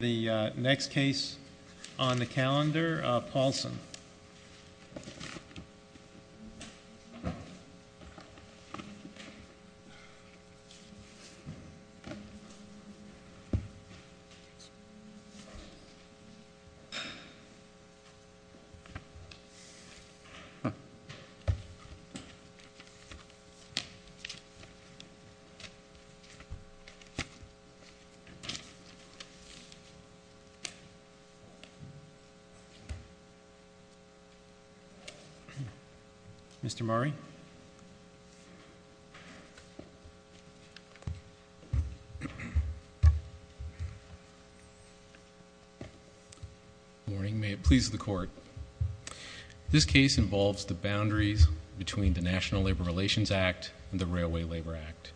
The next case on the calendar, Paulson. Mr. Murray. Good morning. May it please the court. This case involves the boundaries between the National Labor Relations Act and the Railway Labor Act.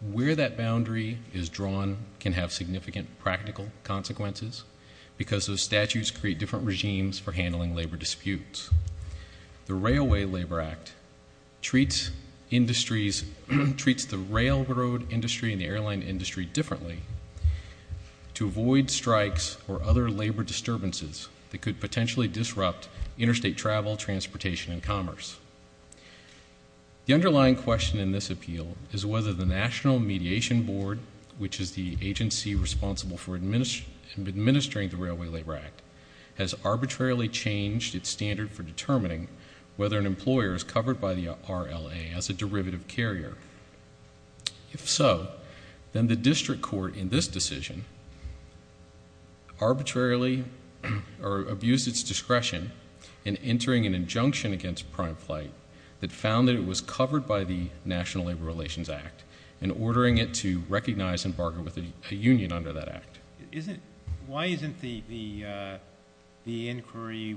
Where that boundary is drawn can have significant practical consequences, because those statutes create different regimes for handling labor disputes. The Railway Labor Act treats the railroad industry and the airline industry differently to avoid strikes or other labor disturbances that could potentially disrupt interstate travel, transportation, and commerce. The underlying question in this appeal is whether the National Mediation Board, which is the agency responsible for administering the Railway Labor Act, has arbitrarily changed its standard for determining whether an employer is covered by the RLA as a derivative carrier. If so, then the district court in this decision arbitrarily abused its discretion in entering an injunction against prime flight that found that it was covered by the National Labor Relations Act, and ordering it to recognize and bargain with a union under that act. Why isn't the inquiry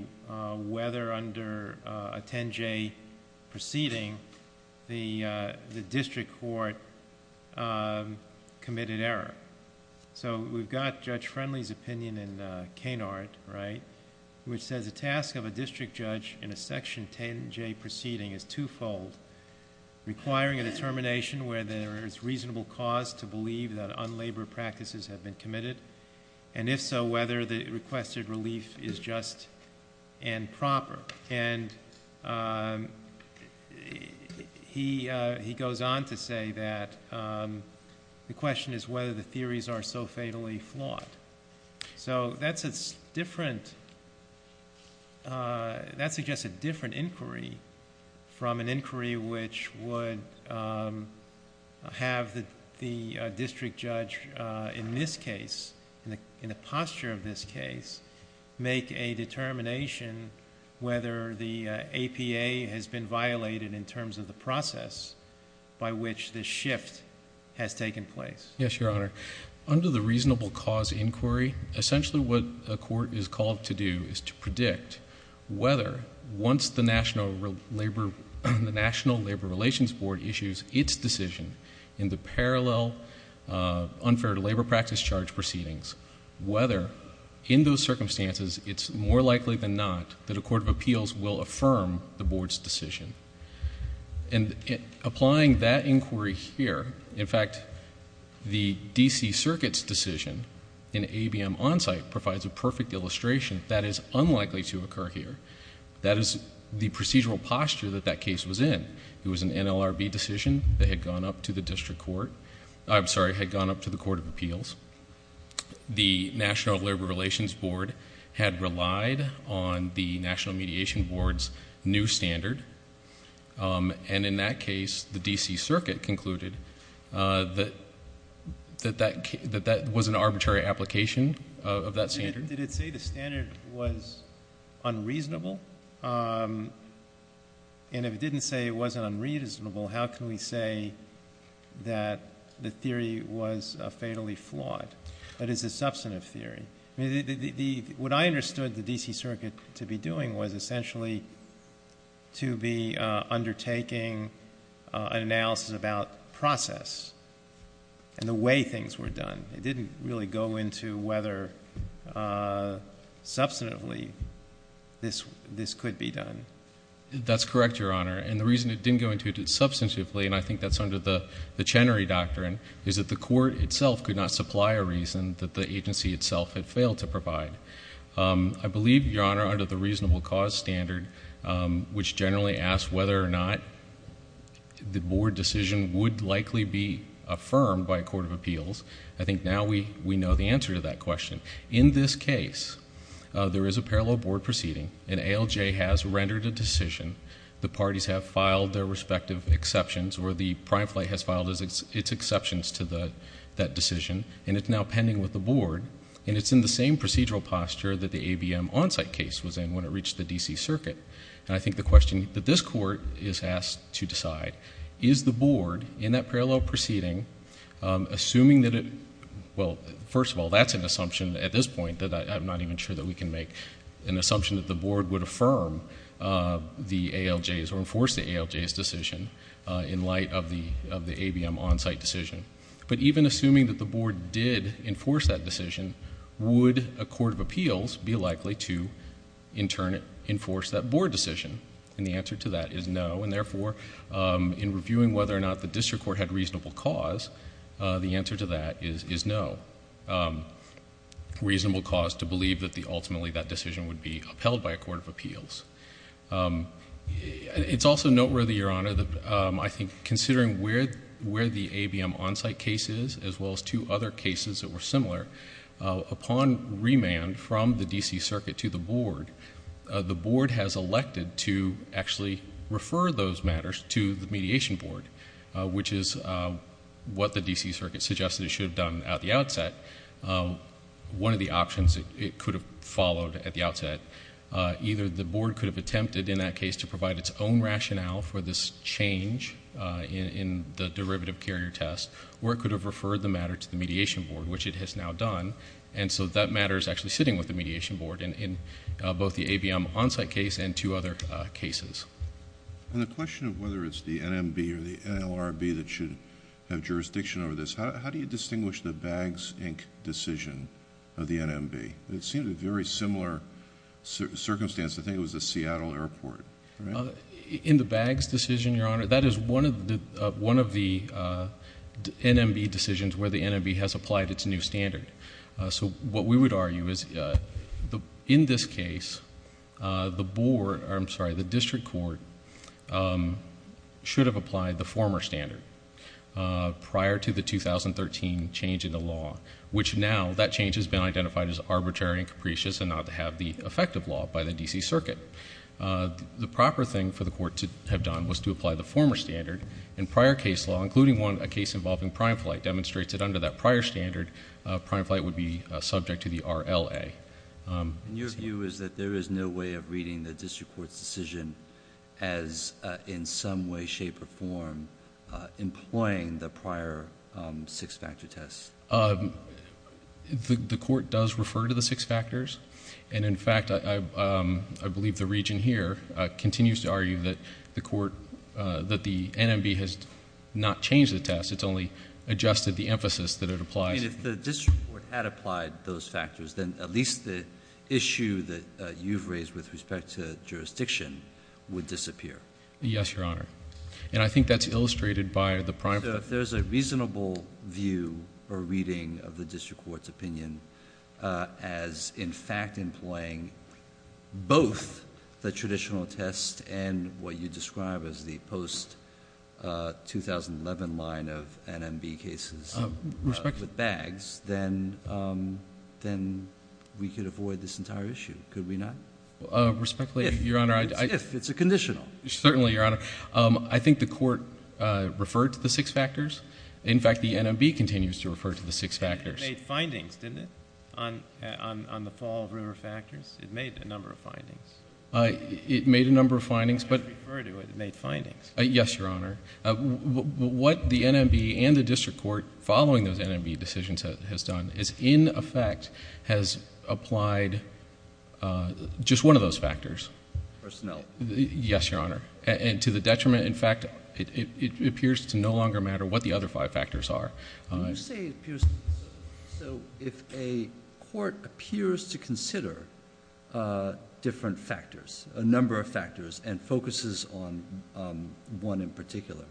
whether under a 10-J proceeding, the district court committed error? We've got Judge Friendly's opinion in Canard, which says the task of a district judge in a Section 10-J proceeding is twofold, requiring a determination whether there is reasonable cause to believe that unlabor practices have been committed, and if so, whether the requested relief is just and proper. He goes on to say that the question is whether the theories are so fatally flawed. That's just a different inquiry from an inquiry which would have the district judge in this case, in the posture of this case, make a determination whether the APA has been violated in terms of the process by which this shift has taken place. Under the reasonable cause inquiry, essentially what a court is called to do is to predict whether once the National Labor Relations Board issues its decision in the parallel unfair to labor practice charge proceedings, whether in those circumstances it's more likely than not that a court of appeals will affirm the Board's decision. Applying that inquiry here, in fact, the D.C. Circuit's decision in ABM Onsite provides a perfect illustration that is unlikely to occur here. That is the procedural posture that that case was in. It was an NLRB decision that had gone up to the court of appeals. The National Labor Relations Board had relied on the National Mediation Board's new standard, and in that case, the D.C. Circuit concluded that that was an arbitrary application of that standard. And if it didn't say it wasn't unreasonable, how can we say that the theory was fatally flawed? What I understood the D.C. Circuit to be doing was essentially to be undertaking an analysis about process and the way things were done. It didn't really go into whether substantively this could be done. That's correct, Your Honor, and the reason it didn't go into it substantively, and I think that's under the Chenery Doctrine, is that the court itself could not supply a reason that the agency itself had failed to provide. I believe, Your Honor, under the reasonable cause standard, which generally asks whether or not the board decision would likely be affirmed by a court of appeals, I think now we know the answer to that question. In this case, there is a parallel board proceeding, and ALJ has rendered a decision. The parties have filed their respective exceptions, or the prime flight has filed its exceptions to that decision, and it's now pending with the board, and it's in the same procedural posture that the ABM on-site case was in when it reached the D.C. Circuit. And I think the question that this court is asked to decide, is the board in that parallel proceeding, assuming that it, well, first of all, that's an assumption at this point that I'm not even sure that we can make, an assumption that the board would affirm the ALJ's or enforce the ALJ's decision in light of the board's decision, would a court of appeals be likely to in turn enforce that board decision? And the answer to that is no, and therefore, in reviewing whether or not the district court had reasonable cause, the answer to that is no. Reasonable cause to believe that ultimately that decision would be upheld by a court of appeals. It's also noteworthy, Your Honor, that I think considering where the ABM on-site case is, as well as two other cases that were similar, upon remand from the D.C. Circuit to the board, the board has elected to actually refer those matters to the mediation board, which is what the D.C. Circuit suggested it should have done at the outset. One of the options it could have followed at the outset, either the board could have attempted in that case to provide its own rationale for this change in the derivative carrier test, or it could have referred the matter to the mediation board, which it has now done. And so that matter is actually sitting with the mediation board in both the ABM on-site case and two other cases. And the question of whether it's the NMB or the NLRB that should have jurisdiction over this, how do you distinguish the Baggs, Inc. decision of the NMB? It seemed a very similar circumstance. I think it was the Seattle Airport. In the Baggs decision, Your Honor, that is one of the NMB decisions where the NMB has applied its new standard. So what we would argue is in this case, the district court should have applied the former standard prior to the 2013 change in the law, which now that change has been identified as arbitrary and capricious and not to have the effective law by the D.C. Circuit. The proper thing for the court to have done was to apply the former standard, and prior case law, including a case involving Prime Flight, demonstrates that under that prior standard, Prime Flight would be subject to the RLA. Your view is that there is no way of reading the district court's decision as in some way, shape, or form employing the prior six-factor test? The court does refer to the six factors. And in fact, I believe the region here continues to argue that the NMB has not changed the test. It's only adjusted the emphasis that it applies. I mean, if the district court had applied those factors, then at least the issue that you've raised with respect to jurisdiction would disappear. Yes, Your Honor. And I think that's illustrated by the prime... Either if there's a reasonable view or reading of the district court's opinion as in fact employing both the traditional test and what you describe as the post 2011 line of NMB cases with bags, then we could avoid this entire issue, could we not? If it's a conditional. Certainly, Your Honor. I think the court referred to the six factors. In fact, the NMB continues to refer to the six factors. It made findings, didn't it, on the fall of rumor factors? It made a number of findings. It made findings. Yes, Your Honor. What the NMB and the district court following those NMB decisions has done is in effect has applied just one of those factors. Personnel. Yes, Your Honor. And to the detriment, in fact, it appears to no longer matter what the other five factors are. So if a court appears to consider different factors, a number of factors, and focuses on one in particular,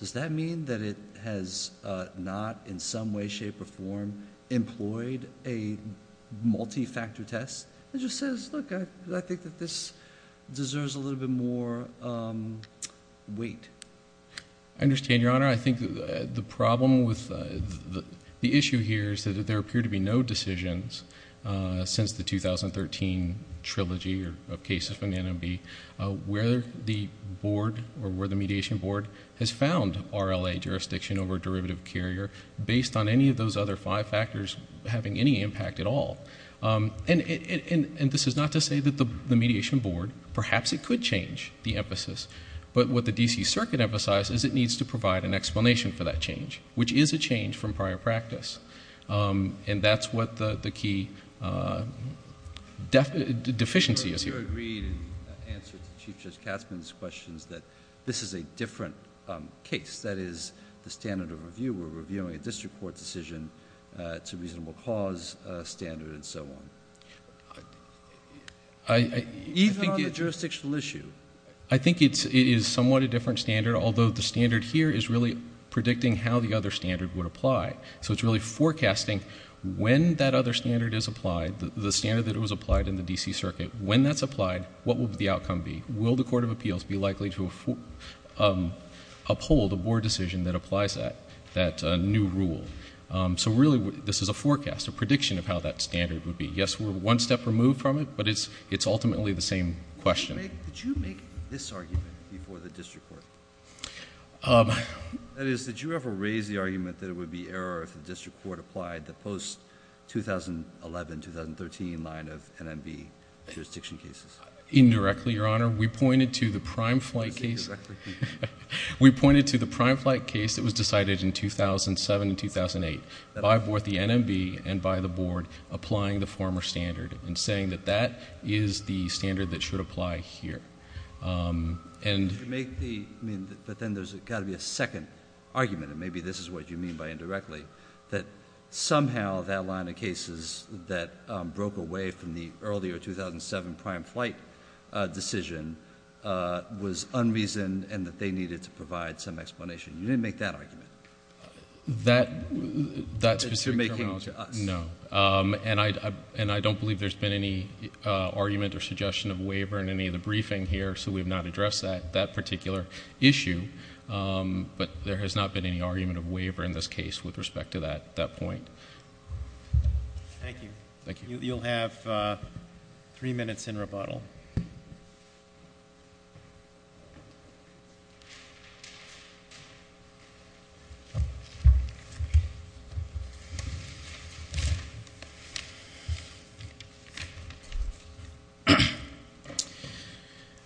does that mean that it has not in some way, shape, or form employed a multi-factor test that just says, look, I think that this deserves a little bit more weight? I understand, Your Honor. I think the problem with the issue here is that there appear to be no decisions since the 2013 trilogy of cases from the NMB where the board or where the mediation board has found RLA jurisdiction over derivative carrier based on any of those other five factors having any impact at all. This is not to say that the mediation board, perhaps it could change the emphasis, but what the D.C. Circuit emphasizes is it needs to provide an explanation for that change, which is a change from prior practice, and that's what the key deficiency is here. You agreed in answer to Chief Judge Katzmann's questions that this is a different case. That is, the standard of review, we're reviewing a district court decision to reasonable cause standard and so on. Even on the jurisdictional issue? I think it is somewhat a different standard, although the standard here is really predicting how the other standard would apply. So it's really forecasting when that other standard is applied, the standard that was applied in the D.C. Circuit, when that's applied, what will the outcome be? Will the Court of Appeals be likely to uphold a board decision that applies that new rule? So really, this is a forecast, a prediction of how that standard would be. Yes, we're one step removed from it, but it's ultimately the same question. Did you make this argument before the district court? That is, did you ever raise the argument that it would be error if the district court applied the post-2011, 2013 line of NMB jurisdiction cases? Indirectly, Your Honor. We pointed to the prime flight case... We pointed to the prime flight case that was decided in 2007 and 2008 by both the NMB and by the board applying the former standard and saying that that is the standard that should apply here. But then there's got to be a second argument, and maybe this is what you mean by indirectly, that somehow that line of cases that broke away from the earlier 2007 prime flight decision was unreasoned and that they needed to provide some explanation. You didn't make that argument? That specific terminology? No. And I don't believe there's been any argument or suggestion of waiver in any of the briefing here, so we've not addressed that particular issue. But there has not been any argument of waiver in this case with respect to that point. Thank you. You'll have three minutes in rebuttal.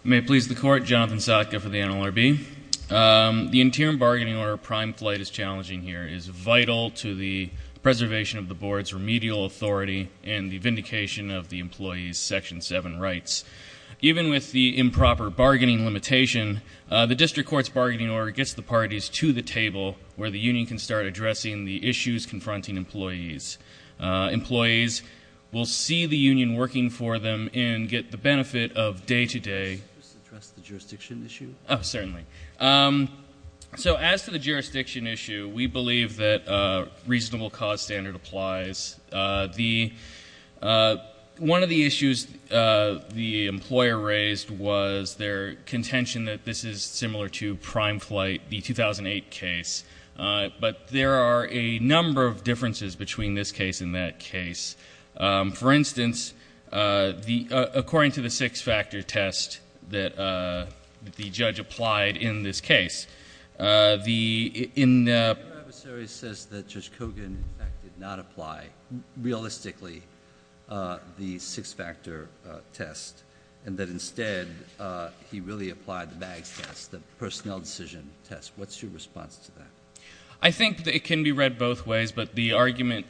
May it please the Court, Jonathan Sotka for the NLRB. The interim bargaining order of prime flight is challenging here. It is vital to the preservation of the board's remedial authority and the vindication of the employees' Section 7 rights. Even with the improper bargaining limitation, the district court's bargaining order gets the parties to the table where the union can start addressing the issues confronting employees. Employees will see the union working for them and get the benefit of day-to-day... Could you address the jurisdiction issue? Certainly. As to the jurisdiction issue, we believe that a reasonable cause standard applies. One of the issues the employer raised was their contention that this is similar to prime flight, the 2008 case. But there are a number of differences between this case and that case. For instance, according to the six-factor test that the judge applied in this case... Your adversary says that Judge Kogan did not apply realistically the six-factor test and that instead he really applied the bag test, the personnel decision test. What's your response to that? I think it can be read both ways, but the argument...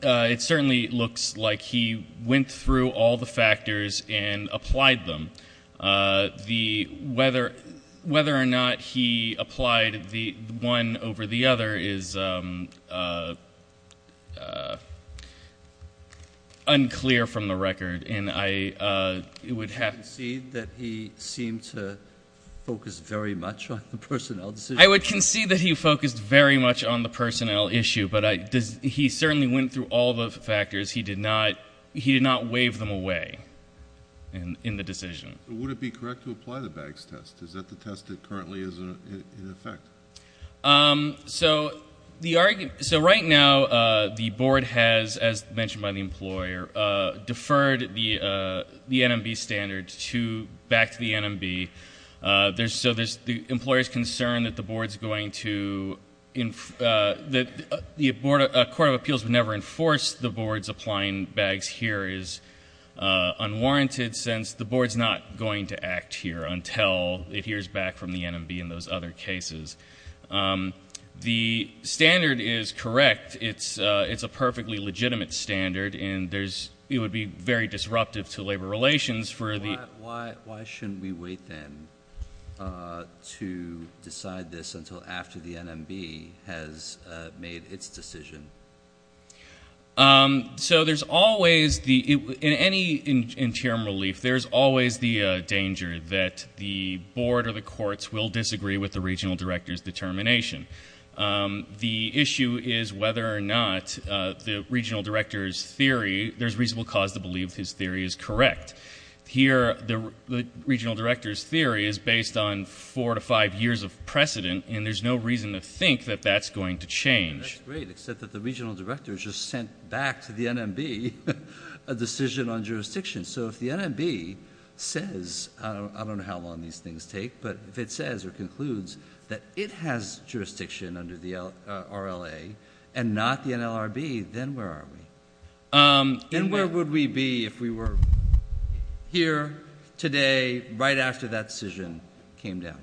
It certainly looks like he went through all the factors and applied them. Whether or not he applied the one over the other is unclear from the record. Do you concede that he seemed to focus very much on the personnel decision? I would concede that he focused very much on the personnel issue, but he certainly went through all the factors. He did not wave them away in the decision. Would it be correct to apply the bags test? Is that the test that currently is in effect? Right now, the board has, as mentioned by the employer, deferred the NMB standard back to the NMB. The employer is concerned that the board is going to... A court of appeals would never enforce the board's applying bags here is unwarranted since the board is not going to act here until it hears back from the NMB in those other cases. The standard is correct. It's a perfectly legitimate standard, and it would be very disruptive to labor relations for... Why shouldn't we wait then to decide this until after the NMB has made its decision? So there's always... In any interim relief, there's always the danger that the board or the courts will disagree with the regional director's determination. The issue is whether or not the regional director's theory... There's reasonable cause to believe his theory is correct. Here, the regional director's theory is based on four to five years of precedent, and there's no reason to think that that's going to change. That's great, except that the regional director just sent back to the NMB a decision on jurisdiction. So if the NMB says... I don't know how long these things take, but if it says or concludes that it has jurisdiction under the RLA and not the NLRB, then where are we? Then where would we be if we were here today right after that decision came down?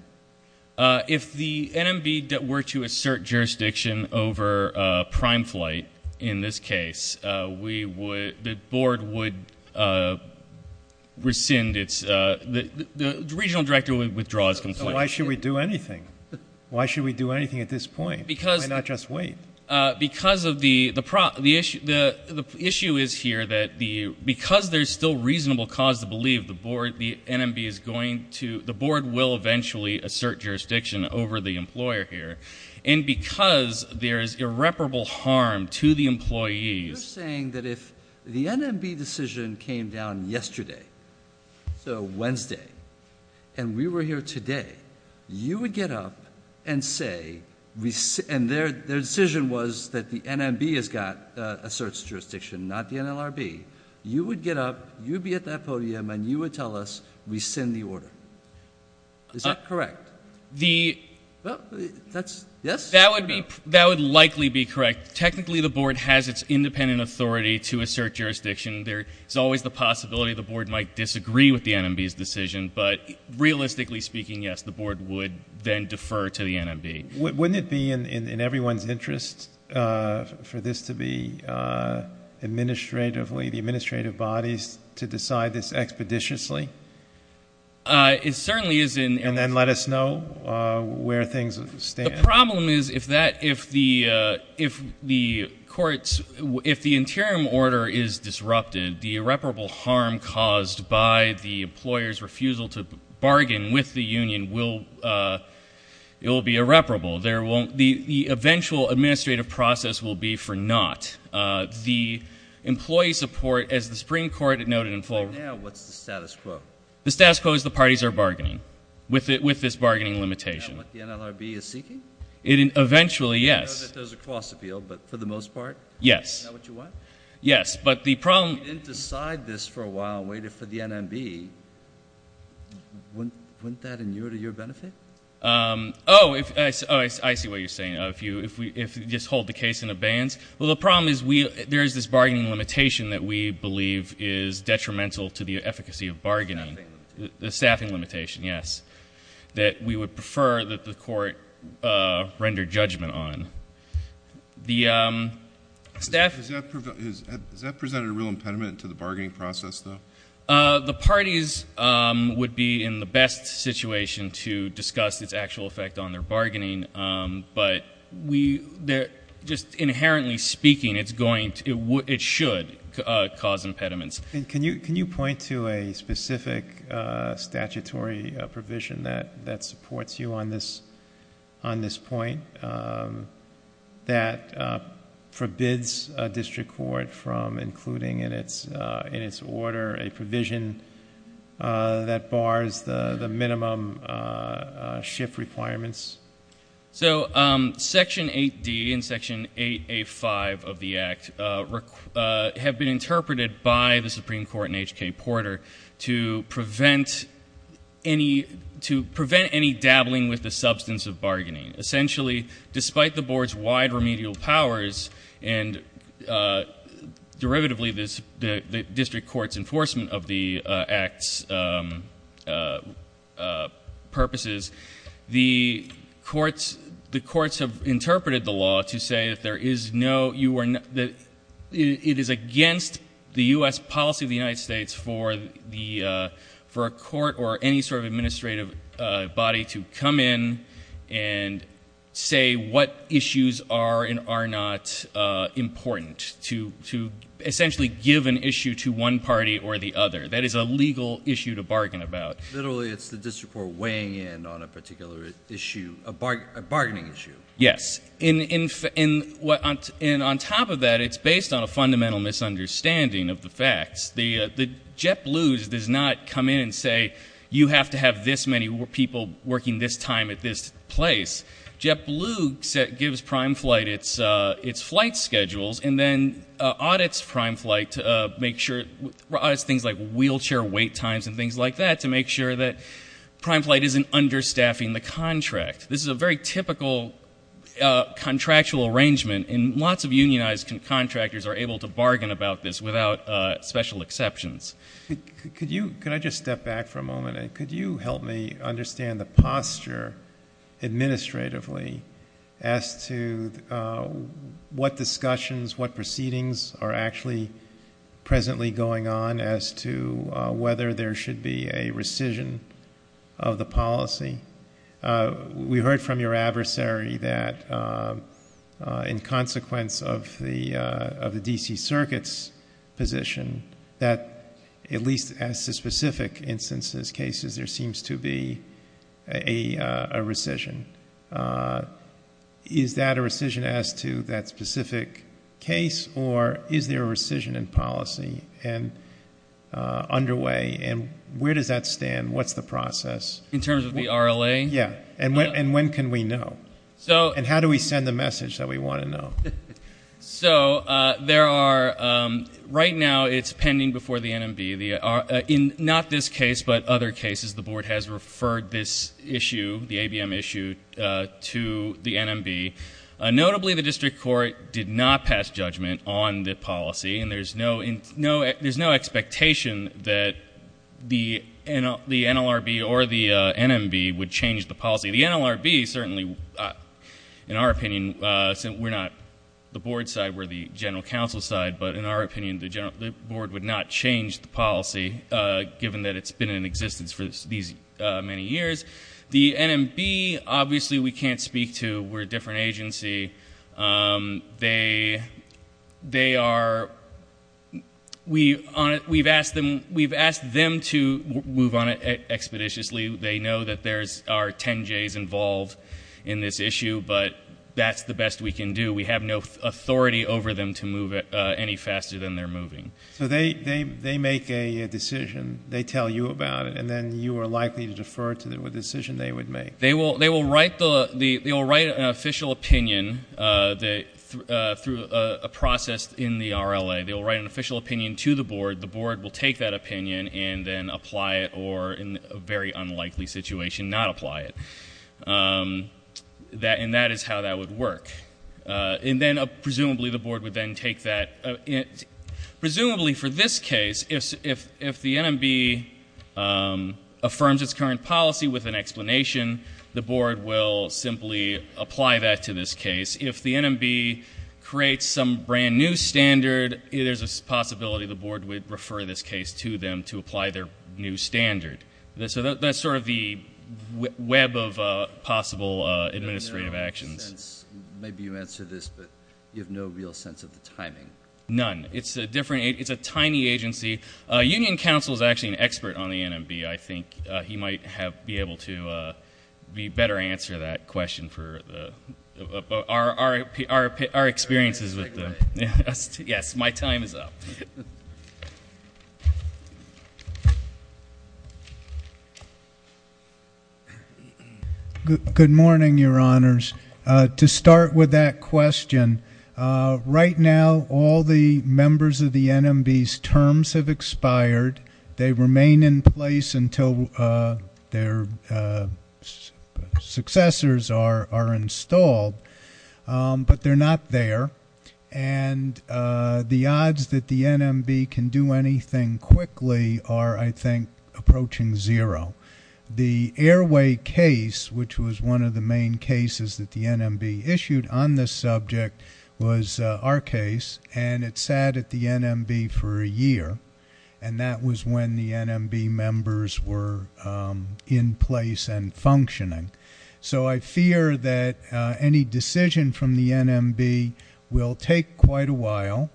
If the NMB were to assert jurisdiction over prime flight in this case, the board would rescind its... The regional director would withdraw his complaint. Why should we do anything? Why should we do anything at this point? Why not just wait? The issue is here that because there's still reasonable cause to believe, the NMB is going to... The board will eventually assert jurisdiction over the employer here, and because there is irreparable harm to the employees... You're saying that if the NMB decision came down yesterday, so Wednesday, and we were here today, you would get up and say... And their decision was that the NMB has got... asserts jurisdiction, not the NLRB. You would get up, you'd be at that podium, and you would tell us, rescind the order. Is that correct? Well, that's... Yes? That would likely be correct. Technically, the board has its independent authority to assert jurisdiction. There's always the possibility the board might disagree with the NMB's decision, but realistically speaking, yes, the board would then defer to the NMB. Wouldn't it be in everyone's interest for this to be administratively... the administrative bodies to decide this expeditiously? It certainly is in... And then let us know where things stand. The problem is if that... if the courts... if the interim order is disrupted, the irreparable harm caused by the employer's refusal to bargain with the union will... it will be irreparable. There won't be... the eventual administrative process will be for naught. The employee support, as the Supreme Court noted in... For now, what's the status quo? The status quo is the parties are bargaining with this bargaining limitation. Is that what the NLRB is seeking? Eventually, yes. I know that those are cross-appealed, but for the most part... Yes. Is that what you want? Yes, but the problem... If we didn't decide this for a while and waited for the NMB, wouldn't that inure to your benefit? Oh, I see what you're saying. If we just hold the case in abeyance. Well, the problem is there is this bargaining limitation that we believe is detrimental to the efficacy of bargaining. The staffing limitation. The staffing limitation, yes. That we would prefer that the court render judgment on. Does that present a real impediment to the bargaining process, though? The parties would be in the best situation to discuss its actual effect on their bargaining, but just inherently speaking, it should cause impediments. Can you point to a specific statutory provision that supports you on this point that forbids a district court from including in its order a provision that bars the minimum shift requirements? Section 8D and Section 8A-5 of the Act have been interpreted by the Supreme Court and H.K. Porter to prevent any dabbling with the substance of bargaining. Essentially, despite the Board's wide remedial powers, and derivatively the district court's enforcement of the Act's purposes, the courts have interpreted the law to say that it is against the U.S. policy of the United States for a court or any sort of administrative body to come in and say what issues are and are not important, to essentially give an issue to one party or the other. That is a legal issue to bargain about. Literally, it's the district court weighing in on a particular issue, a bargaining issue. Yes. And on top of that, it's based on a fundamental misunderstanding of the facts. JetBlue does not come in and say you have to have this many people working this time at this place. JetBlue gives Prime Flight its flight schedules and then audits things like wheelchair wait times and things like that to make sure that Prime Flight isn't understaffing the contract. This is a very typical contractual arrangement and lots of unionized contractors are able to bargain about this without special exceptions. Could I just step back for a moment and could you help me understand the posture administratively as to what discussions, what proceedings are actually presently going on as to whether there should be a rescission of the policy? We heard from your adversary that in consequence of the D.C. Circuit's position, that at least as to that specific case or is there a rescission in policy underway and where does that stand? What's the process? In terms of the RLA? Yeah. And when can we know? And how do we send the message that we want to know? Right now, it's pending before the NMB. In not this case, but other cases, the board has referred this issue, the ABM issue, to the NMB. Notably, the district court did not pass judgment on the policy and there's no expectation that the NLRB or the NMB would change the policy. The NLRB certainly, in our opinion, we're not the board side, we're the general counsel side, but in our opinion, the board would not change the policy given that it's been in existence for these many years. The NMB, obviously we can't speak to. We're a different agency. We've asked them to move on expeditiously. They know that there are 10 J's involved in this issue, but that's the best we can do. We have no authority over them to move any faster than they're moving. So they make a decision, they tell you about it, and then you are likely to defer to the decision they would make? They will write an official opinion through a process in the RLA. They will write an official opinion to the board. The board will take that opinion and then apply it or in a very unlikely situation, not apply it. That is how that would work. Presumably for this case, if the NMB affirms its current policy with an explanation, the board will simply apply that to this case. If the NMB creates some brand new standard, there's a possibility the board would refer this case to them to apply their new standard. That's sort of the web of possible administrative actions. Maybe you answer this, but you have no real sense of the timing. None. It's a tiny agency. Union Council is actually an expert on the NMB. I think he might be able to better answer that question. Yes, my time is up. Good morning, Your Honors. To start with that question, right now all the members of the NMB's terms have expired. They remain in place until their successors are installed, but they're not there. The odds that the NMB can do anything quickly are, I think, approaching zero. The Airway case, which was one of the main cases that the NMB issued on this subject, was our case. It sat at the NMB for a year. That was when the NMB members were in place and functioning. I fear that any decision from the NMB will take quite a while.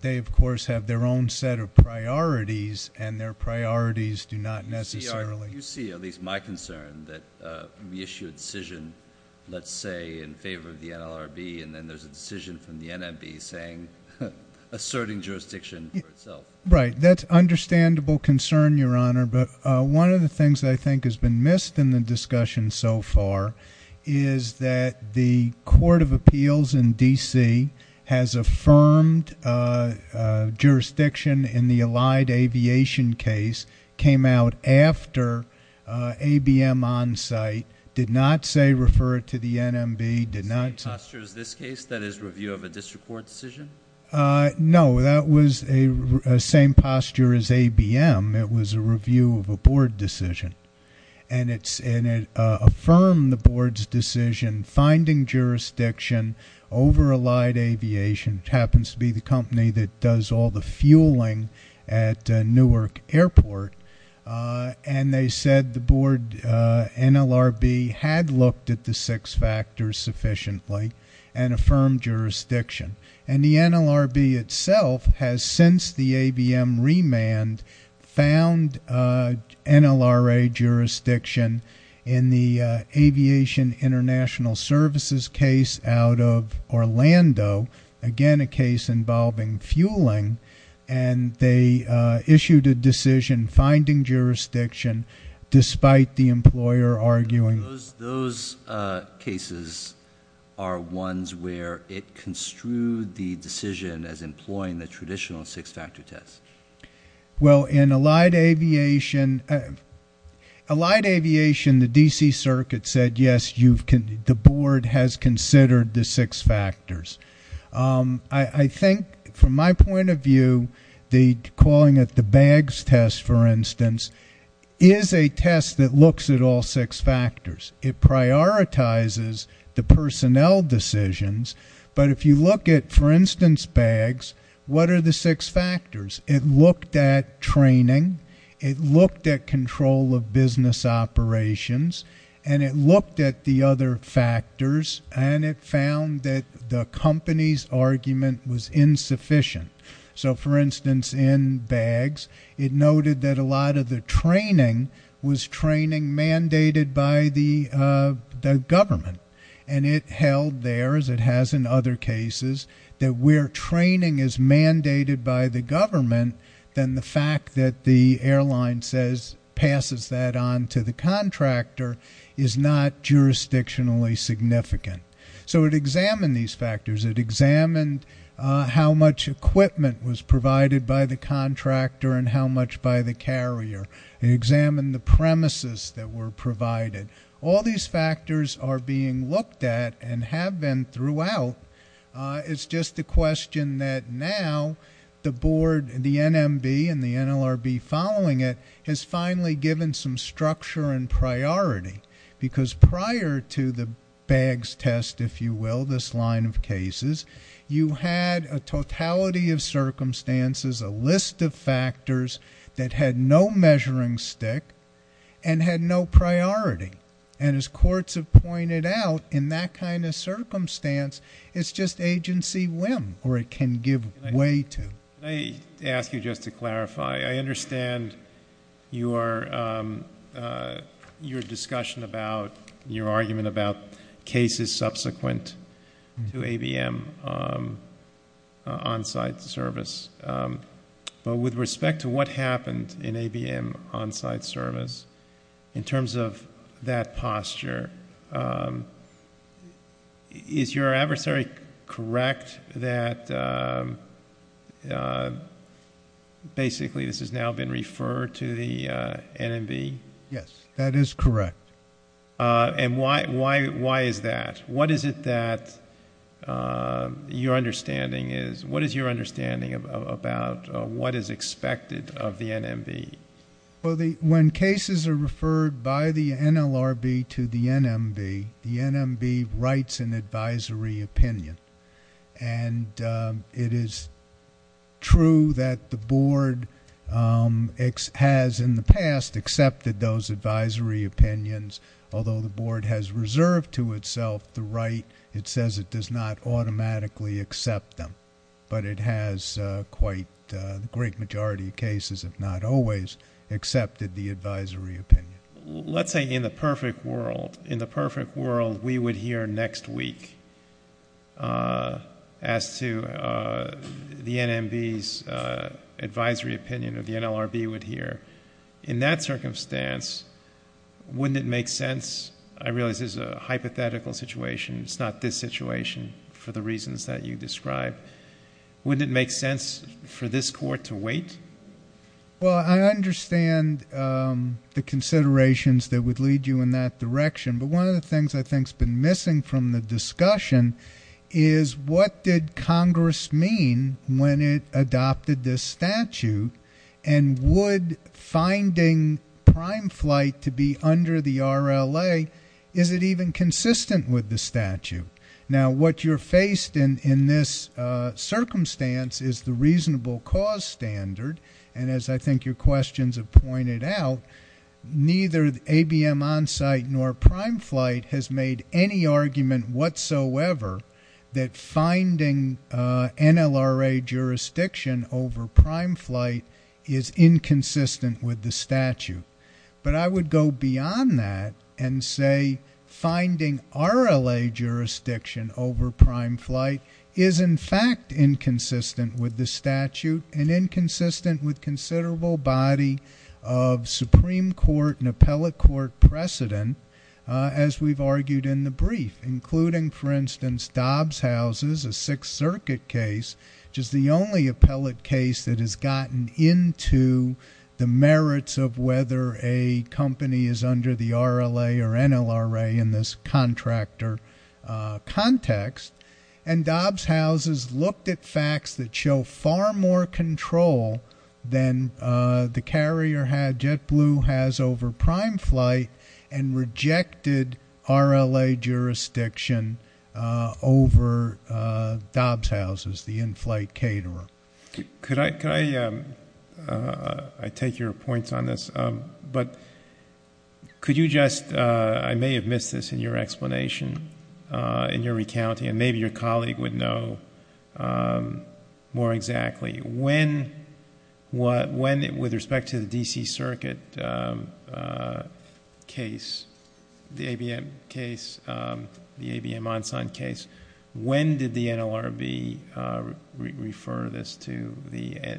They, of course, have their own set of priorities, and their priorities do not necessarily... You see, at least my concern, that we issue a decision, let's say, in favor of the NLRB, and then there's a decision from the NMB asserting jurisdiction for itself. Right. That's an understandable concern, Your Honor, but one of the things that I think has been missed in the discussion so far is that the Court of Appeals in D.C. has affirmed jurisdiction in the Allied Aviation case came out after ABM on-site, did not say refer it to the NMB, did not say... Same posture as this case, that is, review of a district court decision? No, that was the same posture as ABM. It was a review of a board decision. And it affirmed the board's decision, finding jurisdiction over Allied Aviation, which happens to be the company that does all the board. NLRB had looked at the six factors sufficiently and affirmed jurisdiction. And the NLRB itself has, since the ABM remand, found NLRA jurisdiction in the Aviation International Services case out of Orlando, again a case involving fueling, and they issued a decision finding jurisdiction despite the employer arguing... Those cases are ones where it construed the decision as employing the traditional six-factor test. Well, in Allied Aviation... Allied Aviation, the D.C. Circuit said, yes, the board has referred to calling it the BAGS test, for instance, is a test that looks at all six factors. It prioritizes the personnel decisions, but if you look at, for instance, BAGS, what are the six factors? It looked at training, it looked at control of business operations, and it looked at the other factors, and it found that the company's argument was insufficient. So, for instance, in BAGS, it noted that a lot of the training was training mandated by the government. And it held there, as it has in other cases, that where training is mandated by the government, then the fact that the airline says, passes that on to the contractor is not jurisdictionally significant. So it examined these factors. It examined how much equipment was provided by the contractor and how much by the carrier. It examined the premises that were provided. All these factors are being looked at and have been throughout. It's just a question that now the board, the NMB and the NLRB following it, has finally given some structure and priority. Because prior to the BAGS test, if you will, this line of cases, you had a totality of circumstances, a list of factors that had no measuring stick and had no priority. And as courts have pointed out, in that kind of circumstance, it's just... I understand your discussion about, your argument about cases subsequent to ABM on-site service. But with respect to what happened in ABM on-site service, in terms of that posture, is your adversary correct that basically this has now been referred to the NMB? Yes, that is correct. And why is that? What is it that your understanding is, what is your understanding about what is expected of the NMB? Well, when cases are referred by the NLRB to the NMB, the NMB writes an advisory opinion. And it is true that the board has in the past accepted those advisory opinions. Although the board has reserved to itself the right, it says it does not automatically accept them. But it has quite a great majority of cases, if not always, accepted the advisory opinion. Let's say in the perfect world, in the perfect world, we would hear next week as to the NMB's advisory opinion, or the NLRB would hear. In that circumstance, wouldn't it make sense... I realize this is a hypothetical situation. It's not this situation, for the reasons that you described. Wouldn't it make sense for this court to wait? Well, I understand the considerations that would lead you in that direction. But one of the things I think has been missing from the discussion is, what did Congress mean when it adopted this statute, and would finding prime flight to be under the RLA, is it even consistent with the statute? Now, what you're faced in this circumstance is the reasonable cause standard. And as I think your questions have pointed out, neither ABM Onsite nor PrimeFlight has made any argument whatsoever that finding NLRA jurisdiction over PrimeFlight is inconsistent with the statute. But I would go beyond that and say, finding RLA jurisdiction over PrimeFlight is in fact inconsistent with the statute, and inconsistent with considerable body of Supreme Court and appellate court precedent, as we've argued in the brief, including, for instance, Dobbs Houses, a Sixth Circuit case, which is the only appellate case that has gotten into the contractor context. And Dobbs Houses looked at facts that show far more control than the carrier JetBlue has over PrimeFlight, and rejected RLA jurisdiction over Dobbs Houses, the in-flight caterer. Could I, I take your points on this, but could you just... I may have missed this in your explanation, in your recounting, and maybe your colleague would know more exactly. When, with respect to the D.C. Circuit case, the ABM case, the ABM Onsite case, when did the NLRB refer this to the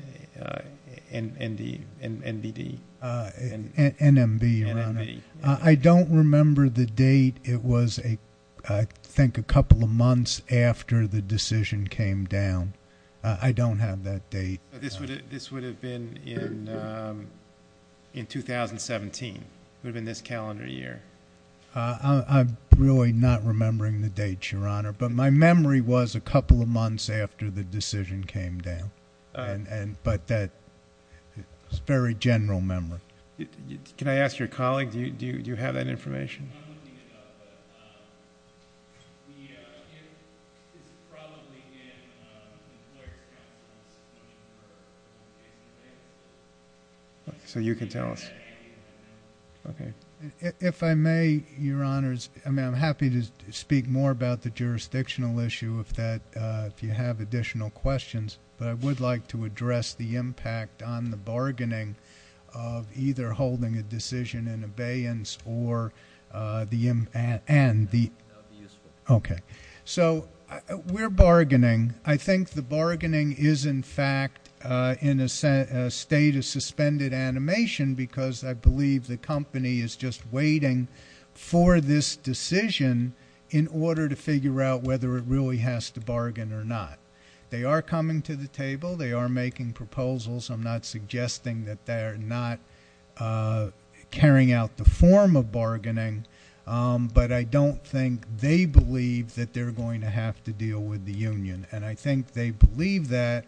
NBD? NMB, Your Honor. I don't remember the date. It was, I think, a couple of months after the decision came down. I don't have that date. This would have been in 2017. It would have been this calendar year. I'm really not remembering the date, Your Honor. But my memory was a couple of months after the decision came down. But that is a very general memory. Can I ask your colleague, do you have that information? I'm not looking it up, but it's probably in the Employer Counsel's Notebook. So you can tell us. If I may, Your Honors, I'm happy to speak more about the jurisdictional issue if you have additional questions, but I would like to address the impact on the bargaining of either holding a decision in abeyance or... Okay. So we're bargaining. I think the bargaining is, in fact, in a state of suspended animation because I believe the company is just waiting for this decision in order to figure out whether it really has to bargain or not. They are coming to the table. They are making proposals. I'm not suggesting that they're not carrying out the form of bargaining, but I don't think they believe that they're going to have to deal with the union. And I think they believe that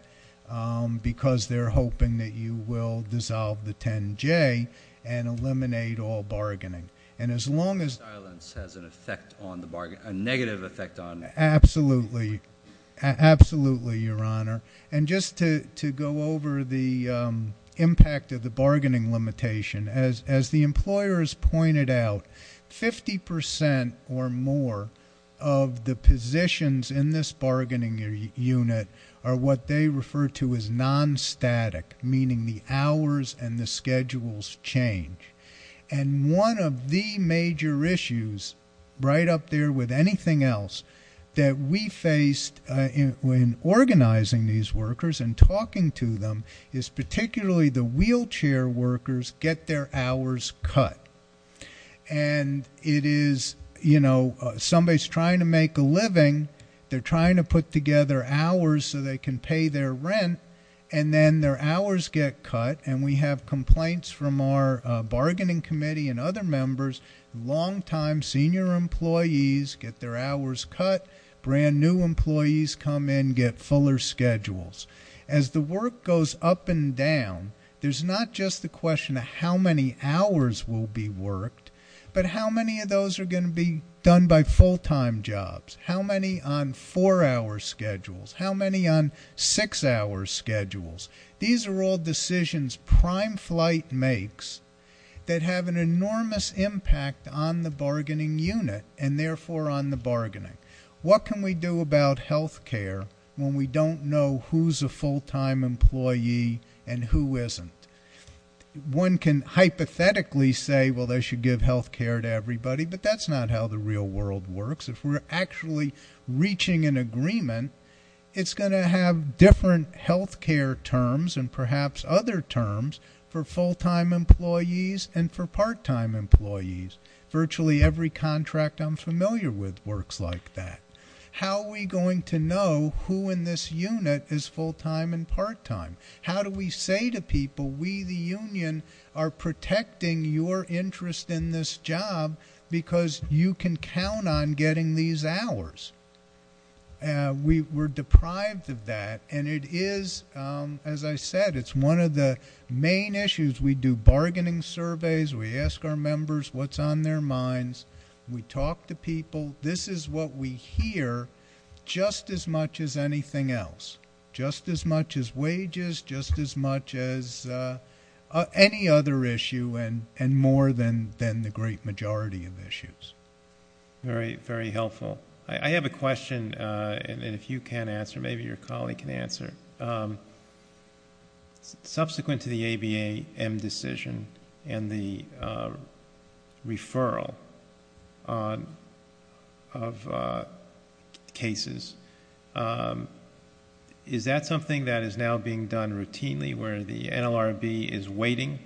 because they're hoping that you will dissolve the 10J and eliminate all bargaining. And as long as... Silence has a negative effect on... Absolutely. Absolutely, Your Honor. And just to go over the impact of the bargaining limitation, as the employers pointed out, 50% or more of the positions in this bargaining unit are what they refer to as non-static, meaning the hours and the schedules change. And one of the major issues right up there with anything else that we faced in organizing these workers and talking to them is particularly the wheelchair workers get their hours cut. And it is, you know, somebody's trying to make a living, they're trying to put together hours so they can pay their rent, and then their hours get cut. And we have complaints from our bargaining committee and other members, long-time senior employees get their hours cut, brand new employees come in, get fuller schedules. As the work goes up and down, there's not just the question of how many hours will be worked, but how many of those are going to be done by full-time jobs? How many on four-hour schedules? How many on six-hour schedules? These are all decisions Prime Flight makes that have an enormous impact on the bargaining unit, and therefore on the bargaining. What can we do about health care when we don't know who's a full-time employee and who isn't? One can hypothetically say, well, they should give health care to everybody, but that's not how the real world works. If we're actually reaching an agreement, it's going to have different health care terms and perhaps other terms for full-time employees and for part-time employees. Virtually every contract I'm familiar with works like that. How are we going to know who in this unit is full-time and part-time? How do we say to people, we, the union, are protecting your interest in this job because you can count on getting these hours? We're deprived of that, and it is, as I said, it's one of the main issues. We do bargaining surveys. We ask our members what's on their minds. We talk to people. This is what we hear just as much as anything else, just as much as wages, just as much as any other issue and more than the great majority of issues. Very helpful. I have a question, and if you can answer, maybe your colleague can answer. Subsequent to the ABA M decision and the referral of cases, is that something that is now being done routinely where the NLRB is waiting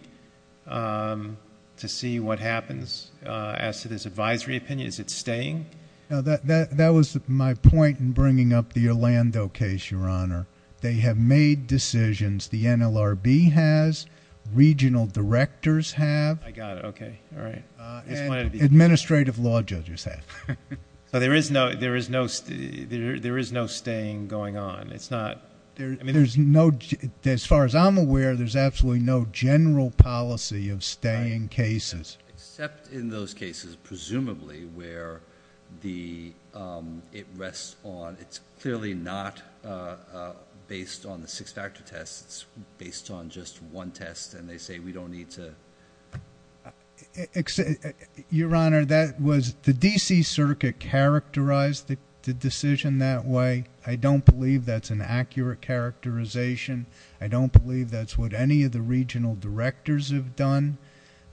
to see what happens as to this advisory opinion? Is it staying? That was my point in bringing up the Orlando case, Your Honor. They have made decisions, the NLRB has, regional directors have, and administrative law judges have. There is no staying going on. As far as I'm aware, there's absolutely no general policy of staying cases. Except in those cases, presumably, where it rests on... it's clearly not based on the six-factor test. It's based on just one test, and it's based on the fact that the NLRB is waiting to see what happens. Your Honor, that was... the D.C. Circuit characterized the decision that way. I don't believe that's an accurate characterization. I don't believe that's what any of the regional directors have done,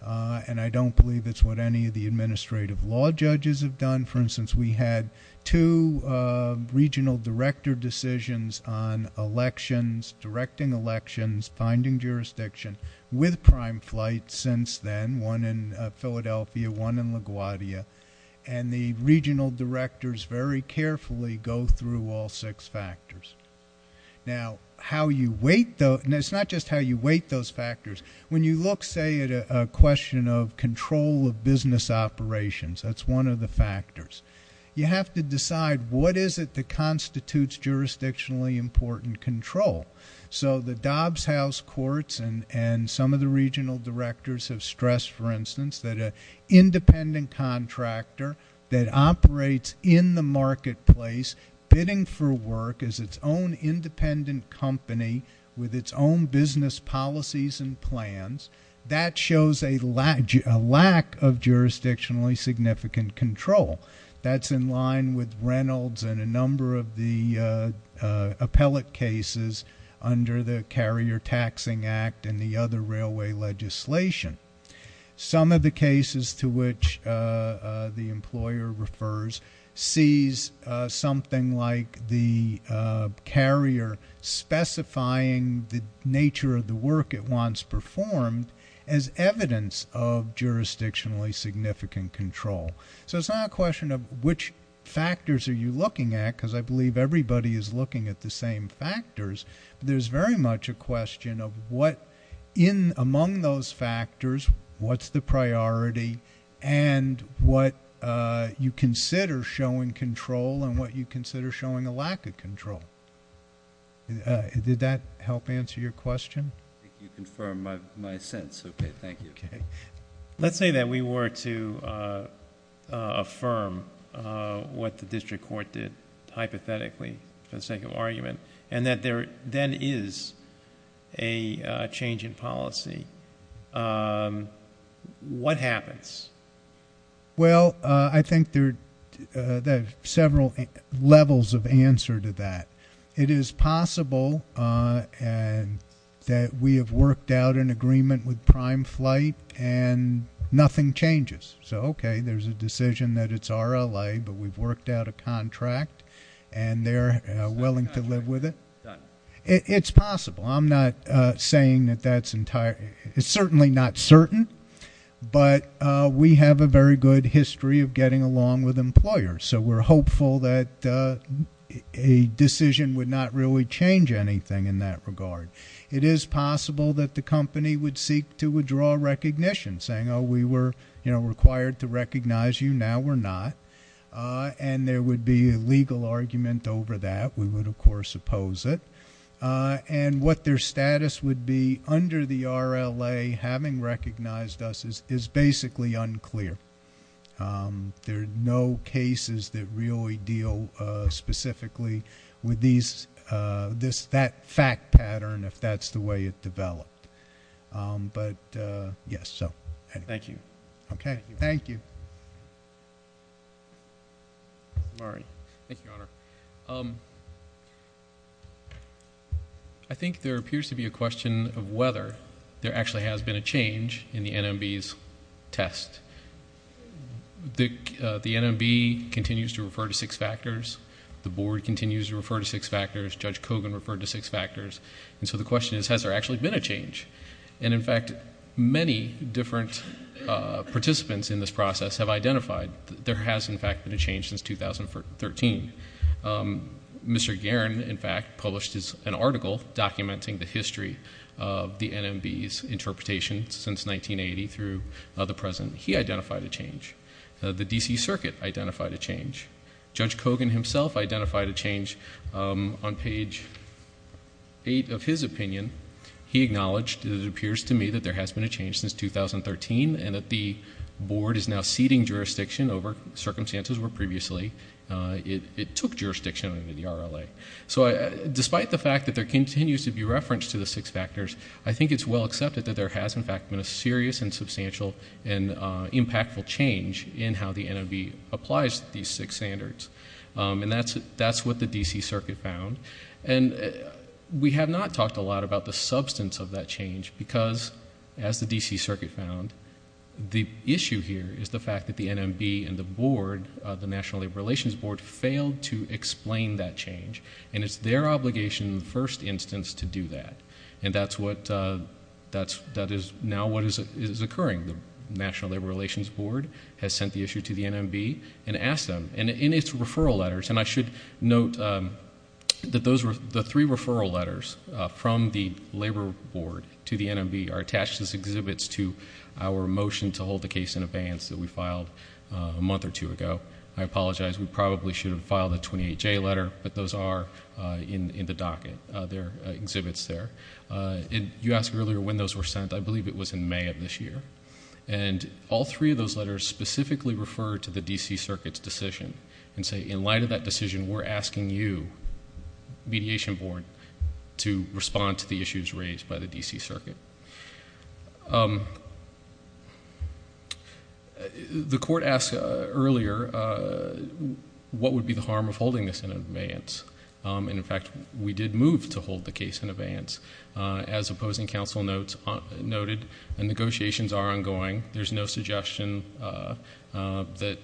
and I don't believe it's what any of the administrative law judges have done. For instance, we had two regional director decisions on elections, directing elections, finding jurisdiction, with prime flight since then, one in Philadelphia, one in LaGuardia. The regional directors very carefully go through all six factors. It's not just how you weight those factors. When you look, say, at a question of control of business operations, that's one of the factors. You have to decide what is it that constitutes jurisdictionally important control. The Dobbs House Courts and some of the regional directors have stressed, for instance, that an independent contractor that operates in the marketplace, bidding for work as its own independent company with its own business policies and plans, that shows a lack of jurisdictionally significant control. That's in line with Reynolds and a number of the appellate cases under the Carrier Taxing Act and the other railway legislation. Some of the cases to which the employer refers sees something like the carrier specifying the nature of the work it wants performed as evidence of jurisdictionally significant control. It's not a question of which factors are you looking at, because I believe everybody is looking at the same factors. There's very much a question of what, among those factors, what's the priority and what you consider showing control and what you consider showing a lack of control. Did that help answer your question? Let's say that we were to affirm what the district court did, hypothetically, for the sake of argument, and that there then is a change in policy. What happens? There are several levels of answer to that. It is possible that a decision would not really change anything in that regard. It is possible that the company would seek to withdraw recognition, saying, we were required to recognize you. Now we're not. There would be a legal argument over that. We would, of course, oppose it. What their status would be under the RLA, having recognized us, is basically unclear. There are no cases that really deal specifically with that fact pattern, if that's the way it developed. Thank you. Thank you, Your Honor. I think there appears to be a question of whether there actually has been a change in the NMB's test. The NMB continues to refer to six factors. The board continues to refer to six factors. Judge Kogan referred to six factors. The question is, has there actually been a change? In fact, many different participants in this process have identified that there has, in fact, been a change since 2013. Mr. Guerin, in fact, published an article documenting the history of the NMB's interpretation since 1980 through the present. He identified a change. The D.C. Circuit identified a change. Judge Kogan himself identified a change on page 8 of his opinion. He acknowledged, it appears to me, that there has been a change since 2013 and that the board is now ceding jurisdiction over circumstances where previously it took jurisdiction under the RLA. Despite the fact that there continues to be reference to the six factors, there has been an impactful change in how the NMB applies these six standards. That's what the D.C. Circuit found. We have not talked a lot about the substance of that change because, as the D.C. Circuit found, the issue here is the fact that the NMB and the board, the National Labor Relations Board, failed to explain that change. It's their obligation in the first instance to do that. That is now what is occurring. The National Labor Relations Board has sent the issue to the NMB and asked them. In its referral letters, and I should note that the three referral letters from the Labor Board to the NMB are attached as exhibits to our motion to hold the case in abeyance that we filed a month or two ago. I apologize. We probably should have filed a 28-J letter, but those are in the docket. They're exhibits there. You asked earlier when those were sent. I believe it was in May of this year. All three of those letters specifically refer to the D.C. Circuit's decision and say, in light of that decision, we're asking you, Mediation Board, to respond to the issues raised by the D.C. Circuit. The court asked earlier what would be the harm of holding this in abeyance. In fact, we did move to hold the case in abeyance. As opposing counsel noted, the negotiations are ongoing. There's no suggestion that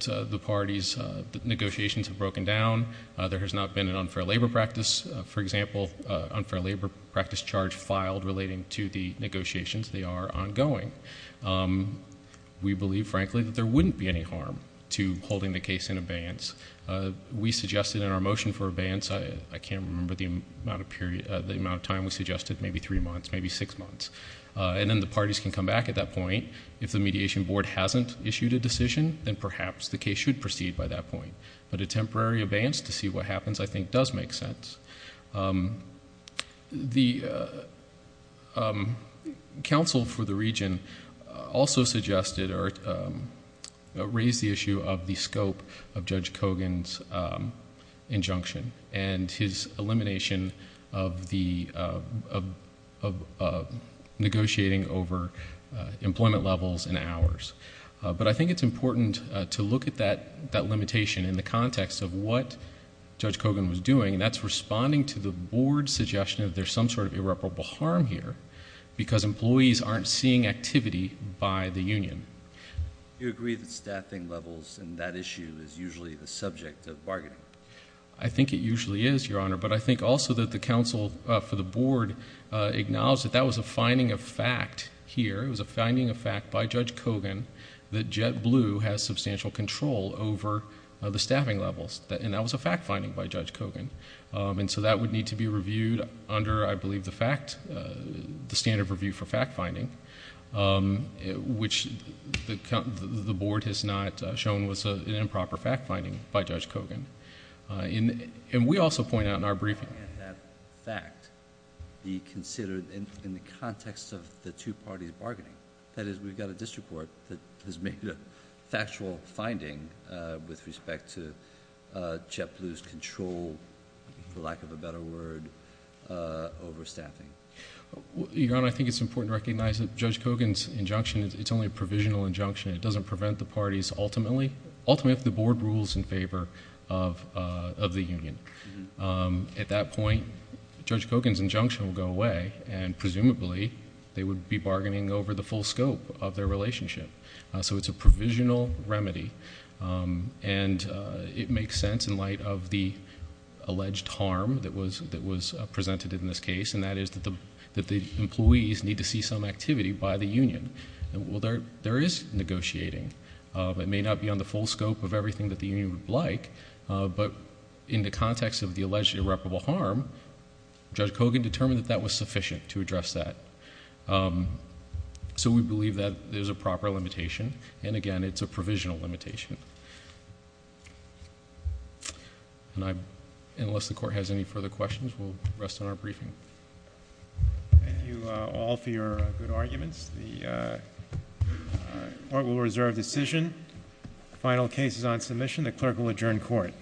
the parties' negotiations have broken down. There has not been an unfair labor practice. For example, an unfair labor practice charge filed relating to the negotiations. They are ongoing. We believe, frankly, that there wouldn't be any harm to holding the case in abeyance. We suggested in our motion for abeyance, I can't remember the amount of time we suggested, maybe three months, maybe six months. Then the parties can come back at that point. If the Mediation Board hasn't issued a decision, then perhaps the case should proceed by that point. A temporary abeyance to see what happens, I think, does make sense. The counsel for the region also suggested or raised the issue of the scope of Judge Kogan's injunction and his elimination of negotiating over employment levels and hours. I think it's important to look at that limitation in the context of what Judge Kogan was doing. That's responding to the Board's suggestion of there's some sort of irreparable harm here because employees aren't seeing activity by the union. Do you agree that staffing levels and that issue is usually the subject of bargaining? I think it usually is, Your Honor, but I think also that the counsel for the Board acknowledged that that was a finding of fact here. It was a finding of fact by Judge Kogan that JetBlue has substantial control over the staffing levels. That was a fact finding by Judge Kogan. That would need to be reviewed under, I believe, the standard review for fact finding, which the Board has not shown was an improper fact finding by Judge Kogan. We also point out in our briefing...... that fact be considered in the context of the two parties' bargaining. That is, we've got a district court that has made a factual finding with respect to JetBlue's control, for lack of a better word, over staffing. Your Honor, I think it's important to recognize that Judge Kogan's injunction, it's only a provisional injunction. It doesn't prevent the parties ultimately, ultimately if the Board rules in favor of the union. At that point, Judge Kogan's injunction will go away and presumably they would be bargaining over the full scope of their relationship. It's a provisional remedy and it makes sense in light of the alleged harm that was presented in this case, and that is that the employees need to see some activity by the union. Well, there is negotiating. It may not be on the full scope of everything that the union would like, but in the context of the alleged irreparable harm, Judge Kogan determined that that was sufficient to address that. We believe that there's a proper limitation and again, it's a provisional limitation. Unless the Court has any further questions, we'll rest on our briefing. Thank you all for your good arguments. The Court will reserve decision. Final case is on submission. The Clerk will adjourn Court.